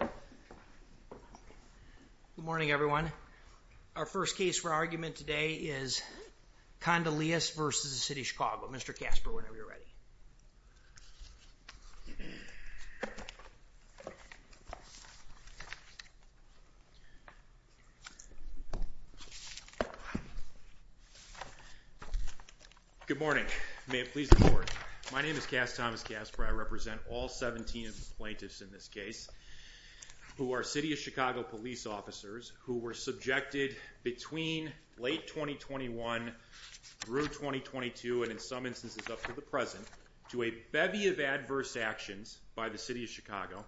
Good morning, everyone. Our first case for argument today is Kondilis v. City of Chicago. Mr. Kasper, whenever you're ready. Good morning. May it please the court. My name is Cass Thomas Kasper. I represent all 17 plaintiffs in this case who are City of Chicago police officers who were subjected between late 2021 through 2022 and in some instances up to the present to a bevy of adverse actions by the City of Chicago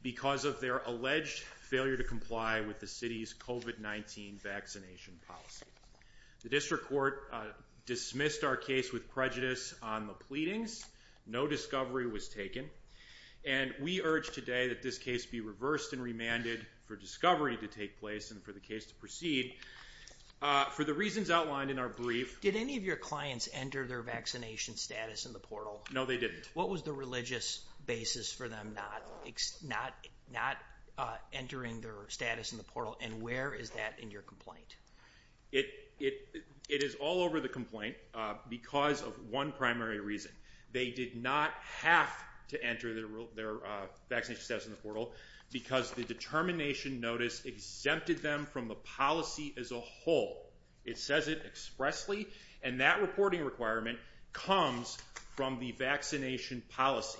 because of their alleged failure to comply with the city's COVID-19 vaccination policy. The district court dismissed our case with prejudice on the pleadings. No discovery was taken. And we urge today that this case be reversed and remanded for discovery to take place and for the case to proceed. For the reasons outlined in our brief, did any of your clients enter their vaccination status in the portal? No, they didn't. What was the religious basis for them not entering their status in the portal? And where is that in your complaint? It is all over the complaint because of one primary reason. They did not have to enter their vaccination status in the portal because the determination notice exempted them from the policy as a whole. It says it expressly, and that reporting requirement comes from the vaccination policy.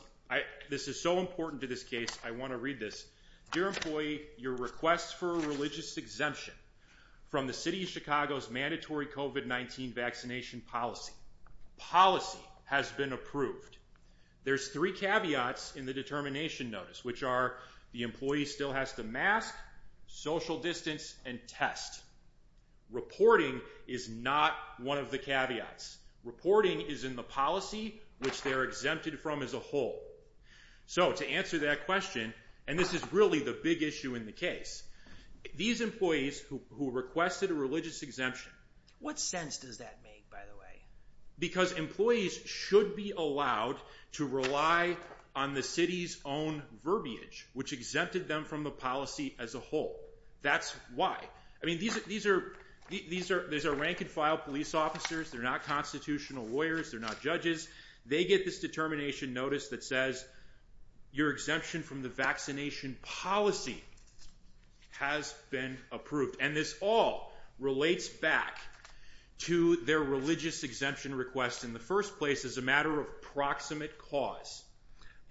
This is so important to this case. I want to read this. Dear employee, your request for a religious exemption from the City of Chicago's mandatory COVID-19 vaccination policy. Policy has been approved. There's three caveats in the determination notice, which are the employee still has to mask, social distance, and test. Reporting is not one of the caveats. Reporting is in the policy, which they're exempted from as a whole. So to answer that question, and this is really the big issue in the case, these employees who requested a religious exemption. What sense does that make, by the way? Because employees should be allowed to rely on the city's own verbiage, which exempted them from the policy as a whole. That's why. I mean, these are rank-and-file police officers. They're not constitutional lawyers. They're not judges. They get this determination notice that says your exemption from the vaccination policy has been approved, and this all relates back to their religious exemption request in the first place as a matter of proximate cause.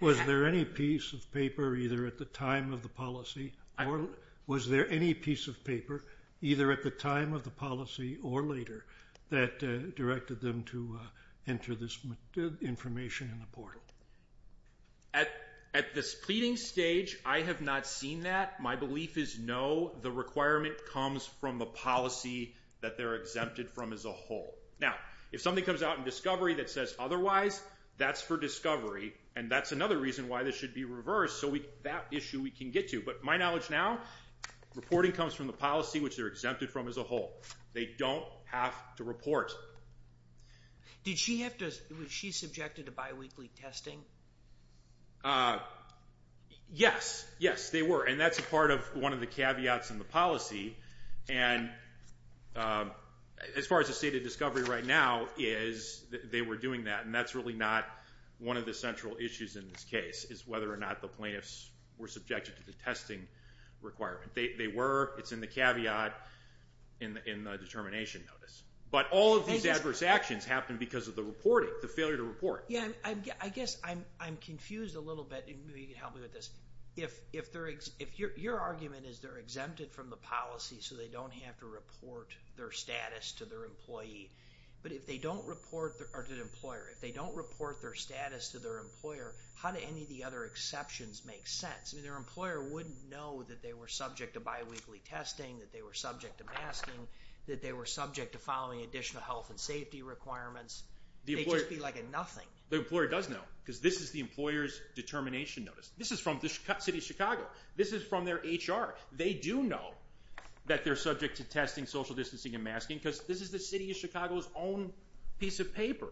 Was there any piece of paper, either at the time of the policy or later, that directed them to enter this information in the portal? At this pleading stage, I have not seen that. My belief is no. The requirement comes from the policy that they're exempted from as a whole. Now, if something comes out in discovery that says otherwise, that's for discovery, and that's another reason why this should be reversed, so that issue we can get to. But my knowledge now, reporting comes from the policy, which they're exempted from as a whole. They don't have to report. Did she have to—was she subjected to biweekly testing? Yes. Yes, they were, and that's part of one of the caveats in the policy. As far as the state of discovery right now is, they were doing that, and that's really not one of the central issues in this case, is whether or not the plaintiffs were subjected to the testing requirement. They were. It's in the caveat in the determination notice. But all of these adverse actions happened because of the reporting, the failure to report. I guess I'm confused a little bit, and maybe you can help me with this. Your argument is they're exempted from the policy, so they don't have to report their status to their employer. If they don't report their status to their employer, how do any of the other exceptions make sense? I mean, their employer wouldn't know that they were subject to biweekly testing, that they were subject to masking, that they were subject to following additional health and safety requirements. They'd just be like a nothing. The employer does know, because this is the employer's determination notice. This is from the city of Chicago. This is from their HR. They do know that they're subject to testing, social distancing, and masking, because this is the city of Chicago's own piece of paper.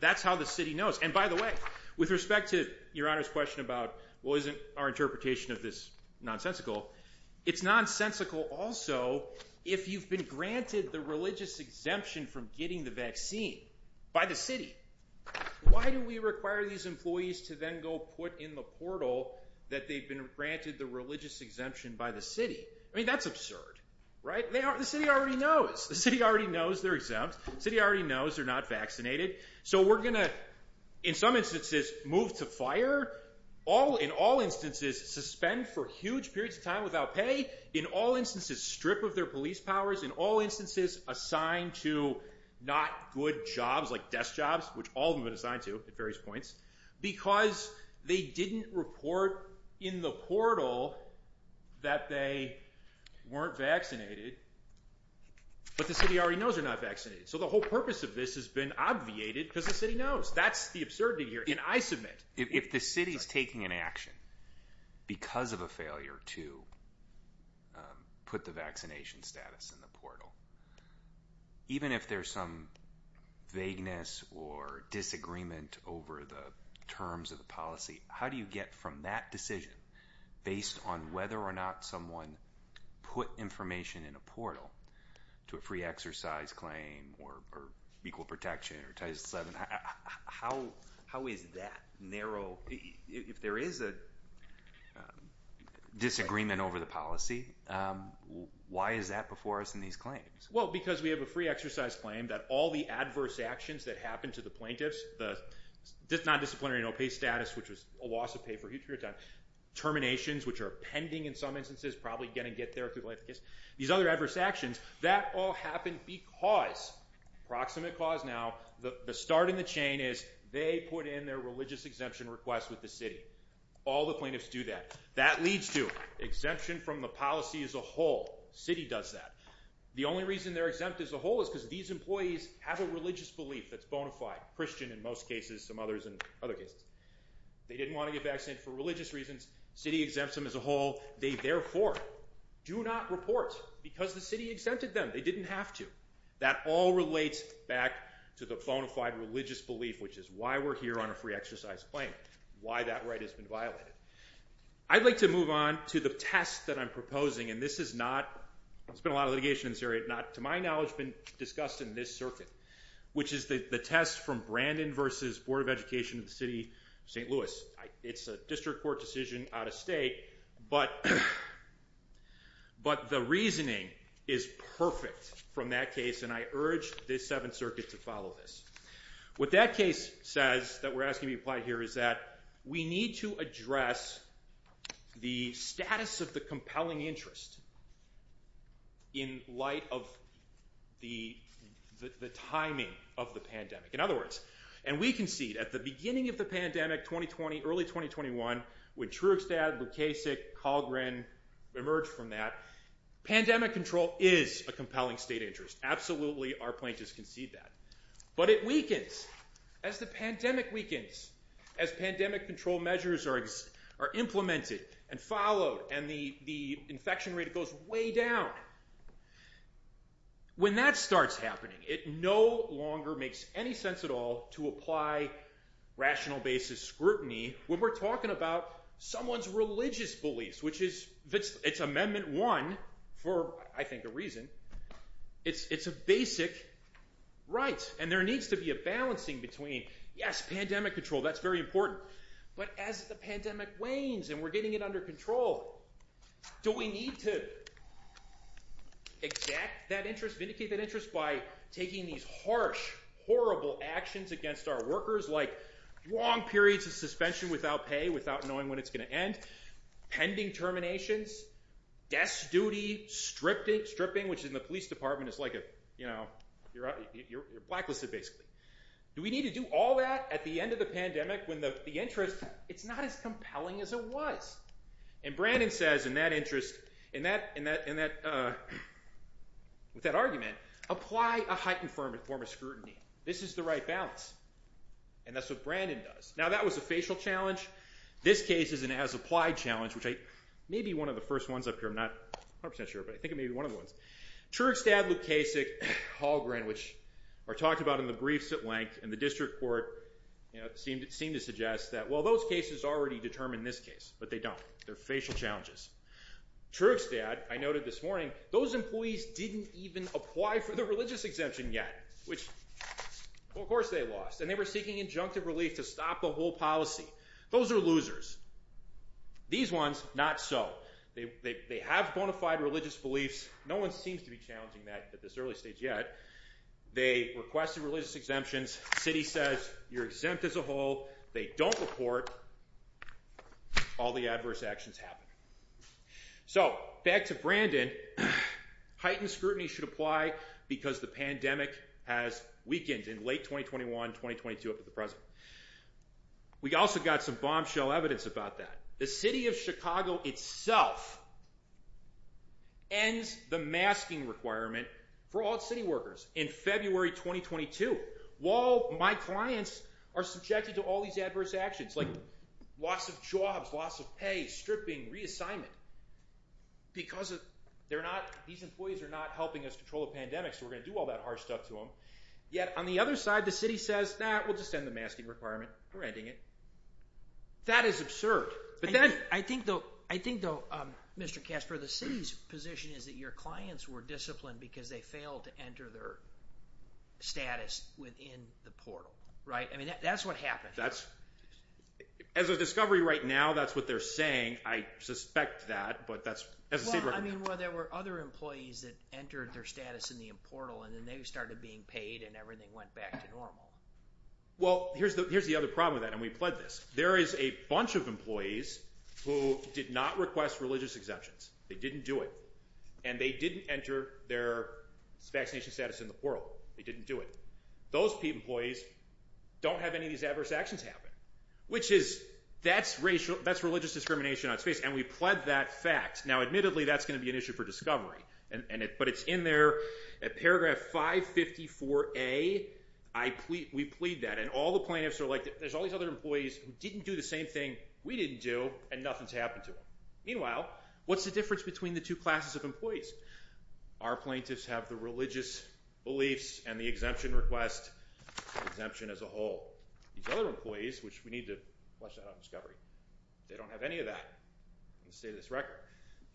That's how the city knows. And by the way, with respect to Your Honor's question about, well, isn't our interpretation of this nonsensical, it's nonsensical also if you've been granted the religious exemption from getting the vaccine by the city. Why do we require these employees to then go put in the portal that they've been granted the religious exemption by the city? I mean, that's absurd, right? The city already knows. The city already knows they're exempt. The city already knows they're not vaccinated. So we're gonna, in some instances, move to fire. In all instances, suspend for huge periods of time without pay. In all instances, strip of their police powers. In all instances, assign to not good jobs like desk jobs, which all of them have been assigned to at various points, because they didn't report in the portal that they weren't vaccinated. But the city already knows they're not vaccinated. So the whole purpose of this has been obviated because the city knows. That's the absurdity here, and I submit. If the city's taking an action because of a failure to put the vaccination status in the portal, even if there's some vagueness or disagreement over the terms of the policy, how do you get from that decision based on whether or not someone put information in a portal to a free exercise claim or equal protection or Title VII? How is that narrow? If there is a disagreement over the policy, why is that before us in these claims? Well, because we have a free exercise claim that all the adverse actions that happened to the plaintiffs, the non-disciplinary no-pay status, which was a loss of pay for a huge period of time, terminations, which are pending in some instances, probably gonna get there. These other adverse actions, that all happened because, proximate cause now, the start in the chain is they put in their religious exemption request with the city. All the plaintiffs do that. That leads to exemption from the policy as a whole. City does that. The only reason they're exempt as a whole is because these employees have a religious belief that's bona fide, Christian in most cases, some others in other cases. They didn't want to get vaccinated for religious reasons. City exempts them as a whole. They therefore do not report because the city exempted them. They didn't have to. That all relates back to the bona fide religious belief, which is why we're here on a free exercise claim, why that right has been violated. I'd like to move on to the test that I'm proposing, and this is not, there's been a lot of litigation in this area, not to my knowledge, been discussed in this circuit, which is the test from Brandon versus Board of Education of the City of St. Louis. It's a district court decision out of state, but the reasoning is perfect from that case, and I urge this Seventh Circuit to follow this. What that case says that we're asking to be applied here is that we need to address the status of the compelling interest in light of the timing of the pandemic. In other words, and we concede, at the beginning of the pandemic, 2020, early 2021, when Trugstad, Lukasik, Kahlgren emerged from that, pandemic control is a compelling state interest. Absolutely, our plaintiffs concede that. But it weakens as the pandemic weakens, as pandemic control measures are implemented and followed, and the infection rate goes way down. When that starts happening, it no longer makes any sense at all to apply rational basis scrutiny when we're talking about someone's religious beliefs, which is, it's Amendment 1 for, I think, a reason. It's a basic right, and there needs to be a balancing between, yes, pandemic control, that's very important, but as the pandemic wanes and we're getting it under control, do we need to? Exact that interest, vindicate that interest by taking these harsh, horrible actions against our workers, like long periods of suspension without pay, without knowing when it's going to end, pending terminations, desk duty, stripping, which in the police department is like a, you know, you're blacklisted, basically. Do we need to do all that at the end of the pandemic when the interest, it's not as compelling as it was? And Brandon says in that interest, in that, with that argument, apply a heightened form of scrutiny. This is the right balance, and that's what Brandon does. Now, that was a facial challenge. This case is an as-applied challenge, which I, maybe one of the first ones up here, I'm not 100% sure, but I think it may be one of the ones. Trugstad, Lukasik, Hallgren, which are talked about in the briefs at length in the district court, you know, seem to suggest that, well, those cases already determine this case, but they don't. They're facial challenges. Trugstad, I noted this morning, those employees didn't even apply for the religious exemption yet, which, well, of course they lost, and they were seeking injunctive relief to stop the whole policy. Those are losers. These ones, not so. They have bona fide religious beliefs. No one seems to be challenging that at this early stage yet. They requested religious exemptions. City says, you're exempt as a whole. They don't report. All the adverse actions happen. So, back to Brandon. Heightened scrutiny should apply because the pandemic has weakened in late 2021, 2022 up to the present. We also got some bombshell evidence about that. The city of Chicago itself ends the masking requirement for all city workers in February 2022. While my clients are subjected to all these adverse actions, like loss of jobs, loss of pay, stripping, reassignment, because these employees are not helping us control a pandemic, so we're going to do all that harsh stuff to them. Yet, on the other side, the city says, nah, we'll just end the masking requirement. We're ending it. That is absurd. I think, though, Mr. Kasper, the city's position is that your clients were disciplined because they failed to enter their status within the portal, right? I mean, that's what happened. As of discovery right now, that's what they're saying. I suspect that, but that's… Well, I mean, there were other employees that entered their status in the portal, and then they started being paid, and everything went back to normal. Well, here's the other problem with that, and we pled this. There is a bunch of employees who did not request religious exemptions. They didn't do it, and they didn't enter their vaccination status in the portal. They didn't do it. Those employees don't have any of these adverse actions happen, which is… that's religious discrimination on its face, and we pled that fact. Now, admittedly, that's going to be an issue for discovery, but it's in there. At paragraph 554A, we plead that, and all the plaintiffs are like, there's all these other employees who didn't do the same thing we didn't do, and nothing's happened to them. Meanwhile, what's the difference between the two classes of employees? Our plaintiffs have the religious beliefs and the exemption request exemption as a whole. These other employees, which we need to flush that out of discovery, they don't have any of that in the state of this record.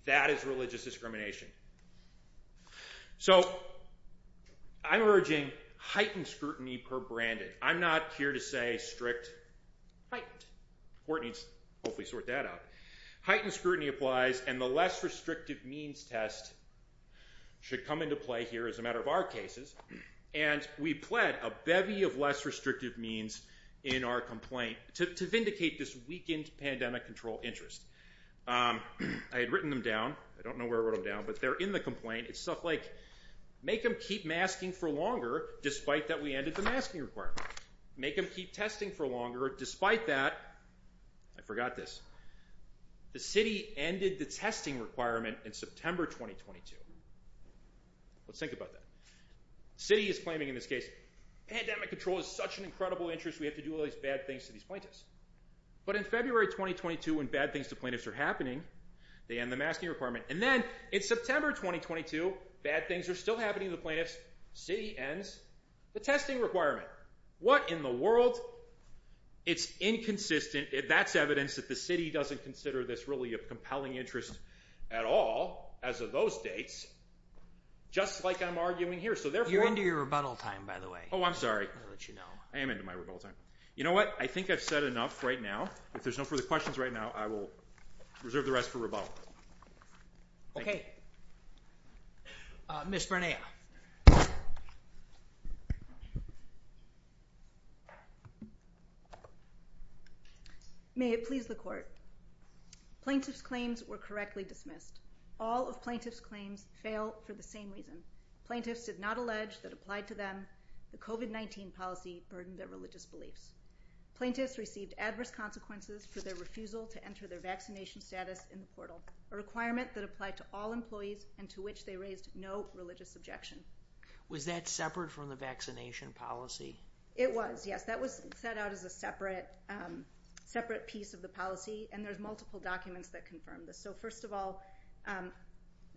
That is religious discrimination. So, I'm urging heightened scrutiny per branded. I'm not here to say strict heightened. The court needs to hopefully sort that out. Heightened scrutiny applies, and the less restrictive means test should come into play here as a matter of our cases, and we pled a bevy of less restrictive means in our complaint to vindicate this weakened pandemic control interest. I had written them down. I don't know where I wrote them down, but they're in the complaint. It's stuff like, make them keep masking for longer despite that we ended the masking requirement. Make them keep testing for longer. Despite that, I forgot this. The city ended the testing requirement in September 2022. Let's think about that. City is claiming in this case. Pandemic control is such an incredible interest. We have to do all these bad things to these plaintiffs, but in February 2022, when bad things to plaintiffs are happening, they end the masking requirement. And then in September 2022, bad things are still happening to the plaintiffs. City ends the testing requirement. What in the world? It's inconsistent. That's evidence that the city doesn't consider this really a compelling interest at all as of those dates, just like I'm arguing here. You're into your rebuttal time, by the way. Oh, I'm sorry. I am into my rebuttal time. You know what? I think I've said enough right now. If there's no further questions right now, I will reserve the rest for rebuttal. Okay. Uh, Miss Renee. May it please the court. Plaintiff's claims were correctly dismissed. All of plaintiff's claims fail for the same reason. Plaintiffs did not allege that applied to them. The COVID-19 policy burdened their religious beliefs. Plaintiffs received adverse consequences for their refusal to enter their vaccination status in the portal, a requirement that applied to all employees and to which they raised no religious objections. Was that separate from the vaccination policy? It was, yes. That was set out as a separate, um, separate piece of the policy. And there's multiple documents that confirm this. So first of all, um,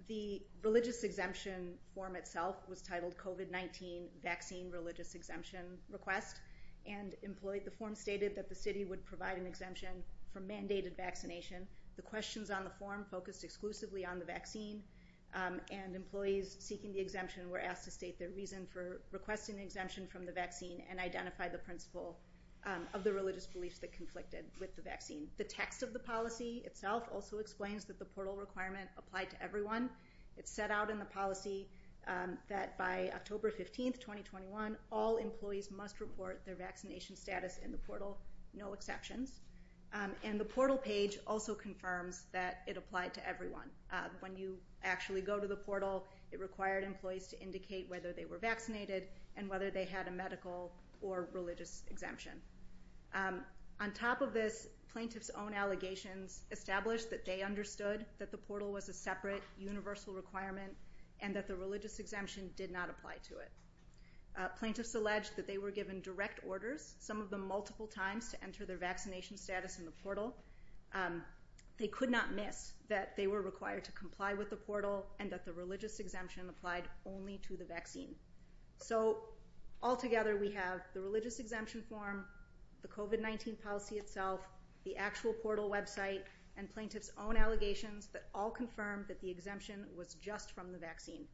the religious exemption form itself was titled COVID-19 vaccine religious exemption request. And employee, the form stated that the city would provide an exemption for mandated vaccination. The questions on the form focused exclusively on the vaccine. Um, and employees seeking the exemption were asked to state their reason for requesting the exemption from the vaccine and identify the principle of the religious beliefs that conflicted with the vaccine. The text of the policy itself also explains that the portal requirement applied to everyone. It's set out in the policy, um, that by October 15th, 2021, all employees must report their vaccination status in the portal, no exceptions. Um, and the portal page also confirms that it applied to everyone. Uh, when you actually go to the portal, it required employees to indicate whether they were vaccinated and whether they had a medical or religious exemption. Um, on top of this plaintiff's own allegations established that they understood that the portal was a separate universal requirement and that the religious exemption did not apply to it. Uh, plaintiffs alleged that they were given direct orders. Some of the multiple times to enter their vaccination status in the portal. Um, they could not miss that they were required to comply with the portal and that the religious exemption applied only to the vaccine. So altogether, we have the religious exemption form, the COVID-19 policy itself, the actual portal website and plaintiff's own allegations that all confirmed that the exemption was just from the vaccine.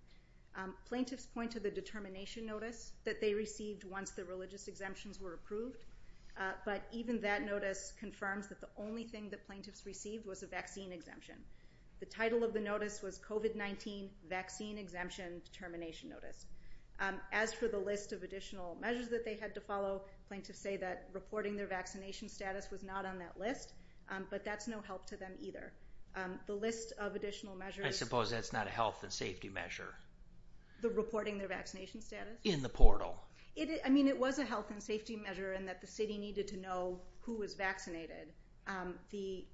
Um, plaintiffs point to the determination notice that they received once the religious exemptions were approved. Uh, but even that notice confirms that the only thing that plaintiffs received was a vaccine exemption. The title of the notice was COVID-19 vaccine exemption determination notice. Um, as for the list of additional measures that they had to follow, plaintiffs say that reporting their vaccination status was not on that list. Um, but that's no help to them either. Um, the list of additional measures, I suppose that's not a health and safety measure. The reporting their vaccination status in the portal. It, I mean, it was a health and safety measure and that the city needed to know who was vaccinated. Um, the,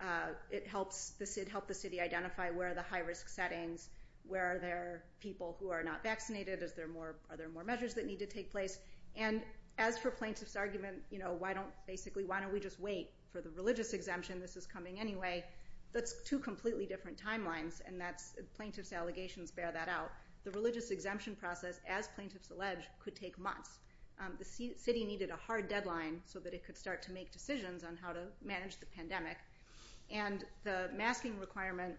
uh, it helps the CID help the city identify where the high risk settings, where are there people who are not vaccinated? Is there more, are there more measures that need to take place? And as for plaintiff's argument, you know, why don't basically, why don't we just wait for the religious exemption? This is coming anyway. That's two completely different timelines. And that's plaintiff's allegations bear that out. The religious exemption process as plaintiffs alleged could take months. Um, the C city needed a hard deadline so that it could start to make decisions on how to manage the pandemic and the masking requirement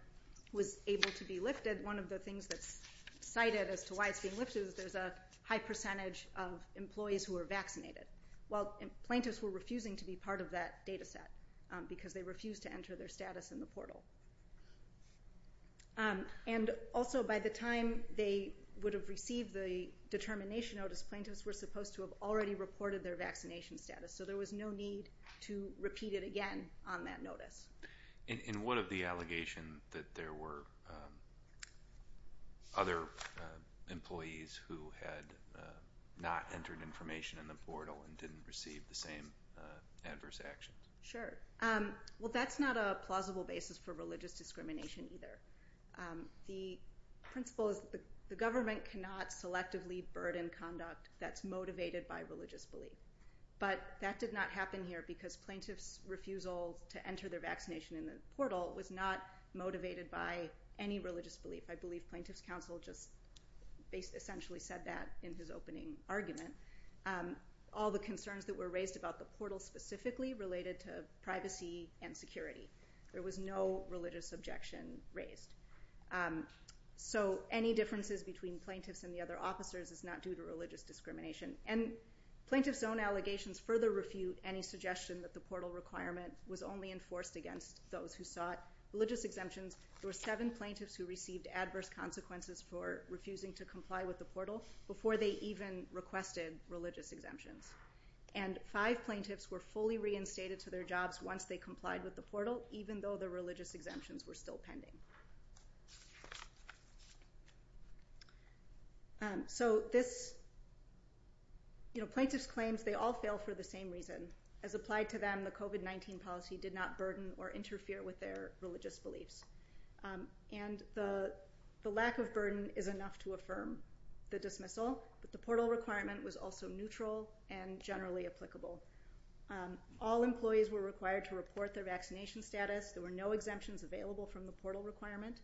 was able to be lifted. One of the things that's cited as to why it's being lifted is there's a high percentage of employees who are vaccinated while plaintiffs were refusing to be part of that data set, um, because they refuse to enter their status in the portal. Um, and also by the time they would have received the determination notice, plaintiffs were supposed to have already reported their vaccination status. So there was no need to repeat it again on that notice. And what of the allegation that there were, um, other, uh, employees who had, uh, not entered information in the portal and didn't receive the same, uh, adverse actions? Sure. Um, well, that's not a plausible basis for religious discrimination either. Um, the principle is the government cannot selectively burden conduct that's motivated by religious belief. But that did not happen here because plaintiffs refusal to enter their vaccination in the portal was not motivated by any religious belief. I believe plaintiffs council just. Based essentially said that in his opening argument, um, all the concerns that were raised about the portal specifically related to privacy and security. There was no religious objection raised. Um, so any differences between plaintiffs and the other officers is not due to religious discrimination and plaintiff's own allegations further refute any suggestion that the portal requirement was only enforced against those who sought religious exemptions. There were seven plaintiffs who received adverse consequences for refusing to comply with the portal before they even requested religious exemptions and five plaintiffs were fully reinstated to their jobs. Once they complied with the portal, even though the religious exemptions were still pending. Um, so this, you know, plaintiff's claims, they all fail for the same reason as applied to them. The COVID-19 policy did not burden or interfere with their religious beliefs. Um, and the, the lack of burden is enough to affirm the dismissal, but the portal requirement was also neutral and generally applicable. Um, all employees were required to report their vaccination status. There were no exemptions available from the portal requirement.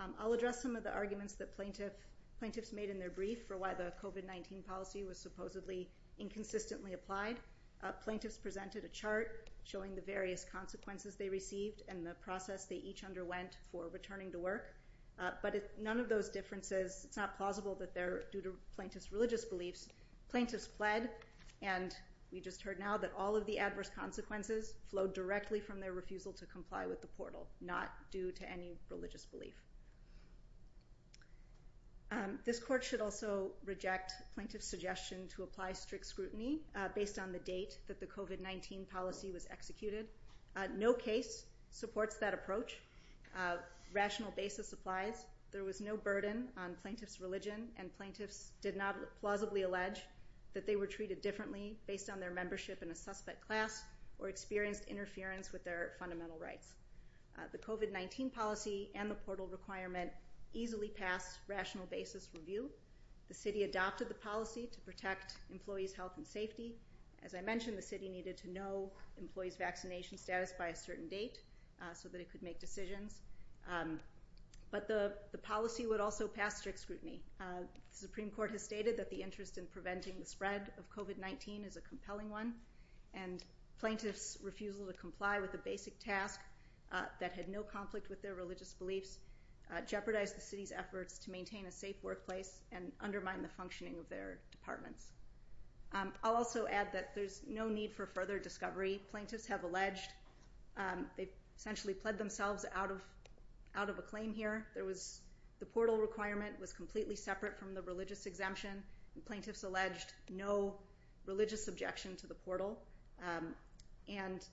Um, I'll address some of the arguments that plaintiff plaintiffs made in their brief for why the COVID-19 policy was supposedly inconsistently applied. Uh, plaintiffs presented a chart showing the various consequences they received and the process they each underwent for returning to work. Uh, but none of those differences, it's not plausible that they're due to plaintiff's religious beliefs. Plaintiffs fled and we just heard now that all of the adverse consequences flowed directly from their refusal to comply with the portal, not due to any religious belief. Um, this court should also reject plaintiff's suggestion to apply strict scrutiny, uh, based on the date that the COVID-19 policy was executed. Uh, no case supports that approach. Uh, rational basis applies. There was no burden on plaintiff's religion and plaintiffs did not plausibly allege that they were treated differently based on their membership in a suspect class or experienced interference with their fundamental rights. Uh, the COVID-19 policy and the portal requirement easily passed rational basis review. The city adopted the policy to protect employees' health and safety. As I mentioned, the city needed to know employees' vaccination status by a certain date, uh, so that it could make decisions. Um, but the policy would also pass strict scrutiny. Uh, the Supreme Court has stated that the interest in preventing the spread of COVID-19 is a compelling one and plaintiff's refusal to comply with a basic task, uh, that had no conflict with their religious beliefs, uh, jeopardized the city's efforts to maintain a safe workplace and undermine the functioning of their departments. Um, I'll also add that there's no need for further discovery. Plaintiffs have alleged, um, they essentially pled themselves out of, out of a claim here. There was, the portal requirement was completely separate from the religious exemption and plaintiffs alleged no religious objection to the portal. Um, and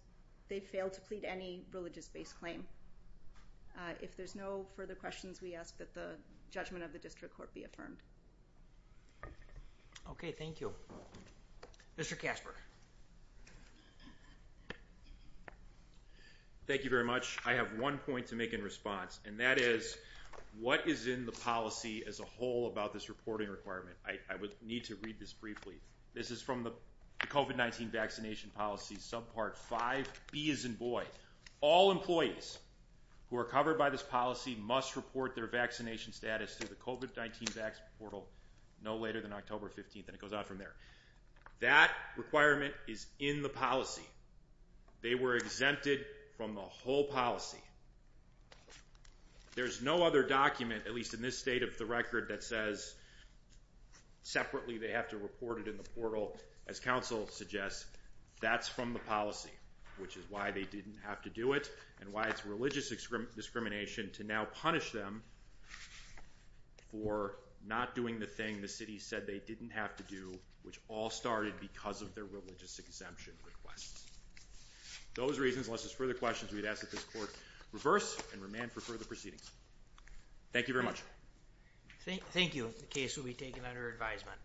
they failed to plead any religious based claim. Uh, if there's no further questions, we ask that the judgment of the district court be affirmed. Okay, thank you. Mr. Casper. Thank you very much. I have one point to make in response and that is what is in the policy as a whole about this reporting requirement? I would need to read this briefly. This is from the COVID-19 vaccination policy subpart five B as in boy. All employees who are covered by this policy must report their vaccination status to the COVID-19 Vax portal no later than October 15th. And it goes out from there. That requirement is in the policy. They were exempted from the whole policy. There's no other document at least in this state of the record that says separately they have to report it in the portal. As council suggests, that's from the policy which is why they didn't have to do it and why it's religious discrimination to now punish them for not doing the thing the city said they didn't have to do which all started because of their religious exemption requests. Those reasons, unless there's further questions, we'd ask that this court reverse and remand for further proceedings. Thank you very much. Thank you. The case will be taken under advisement.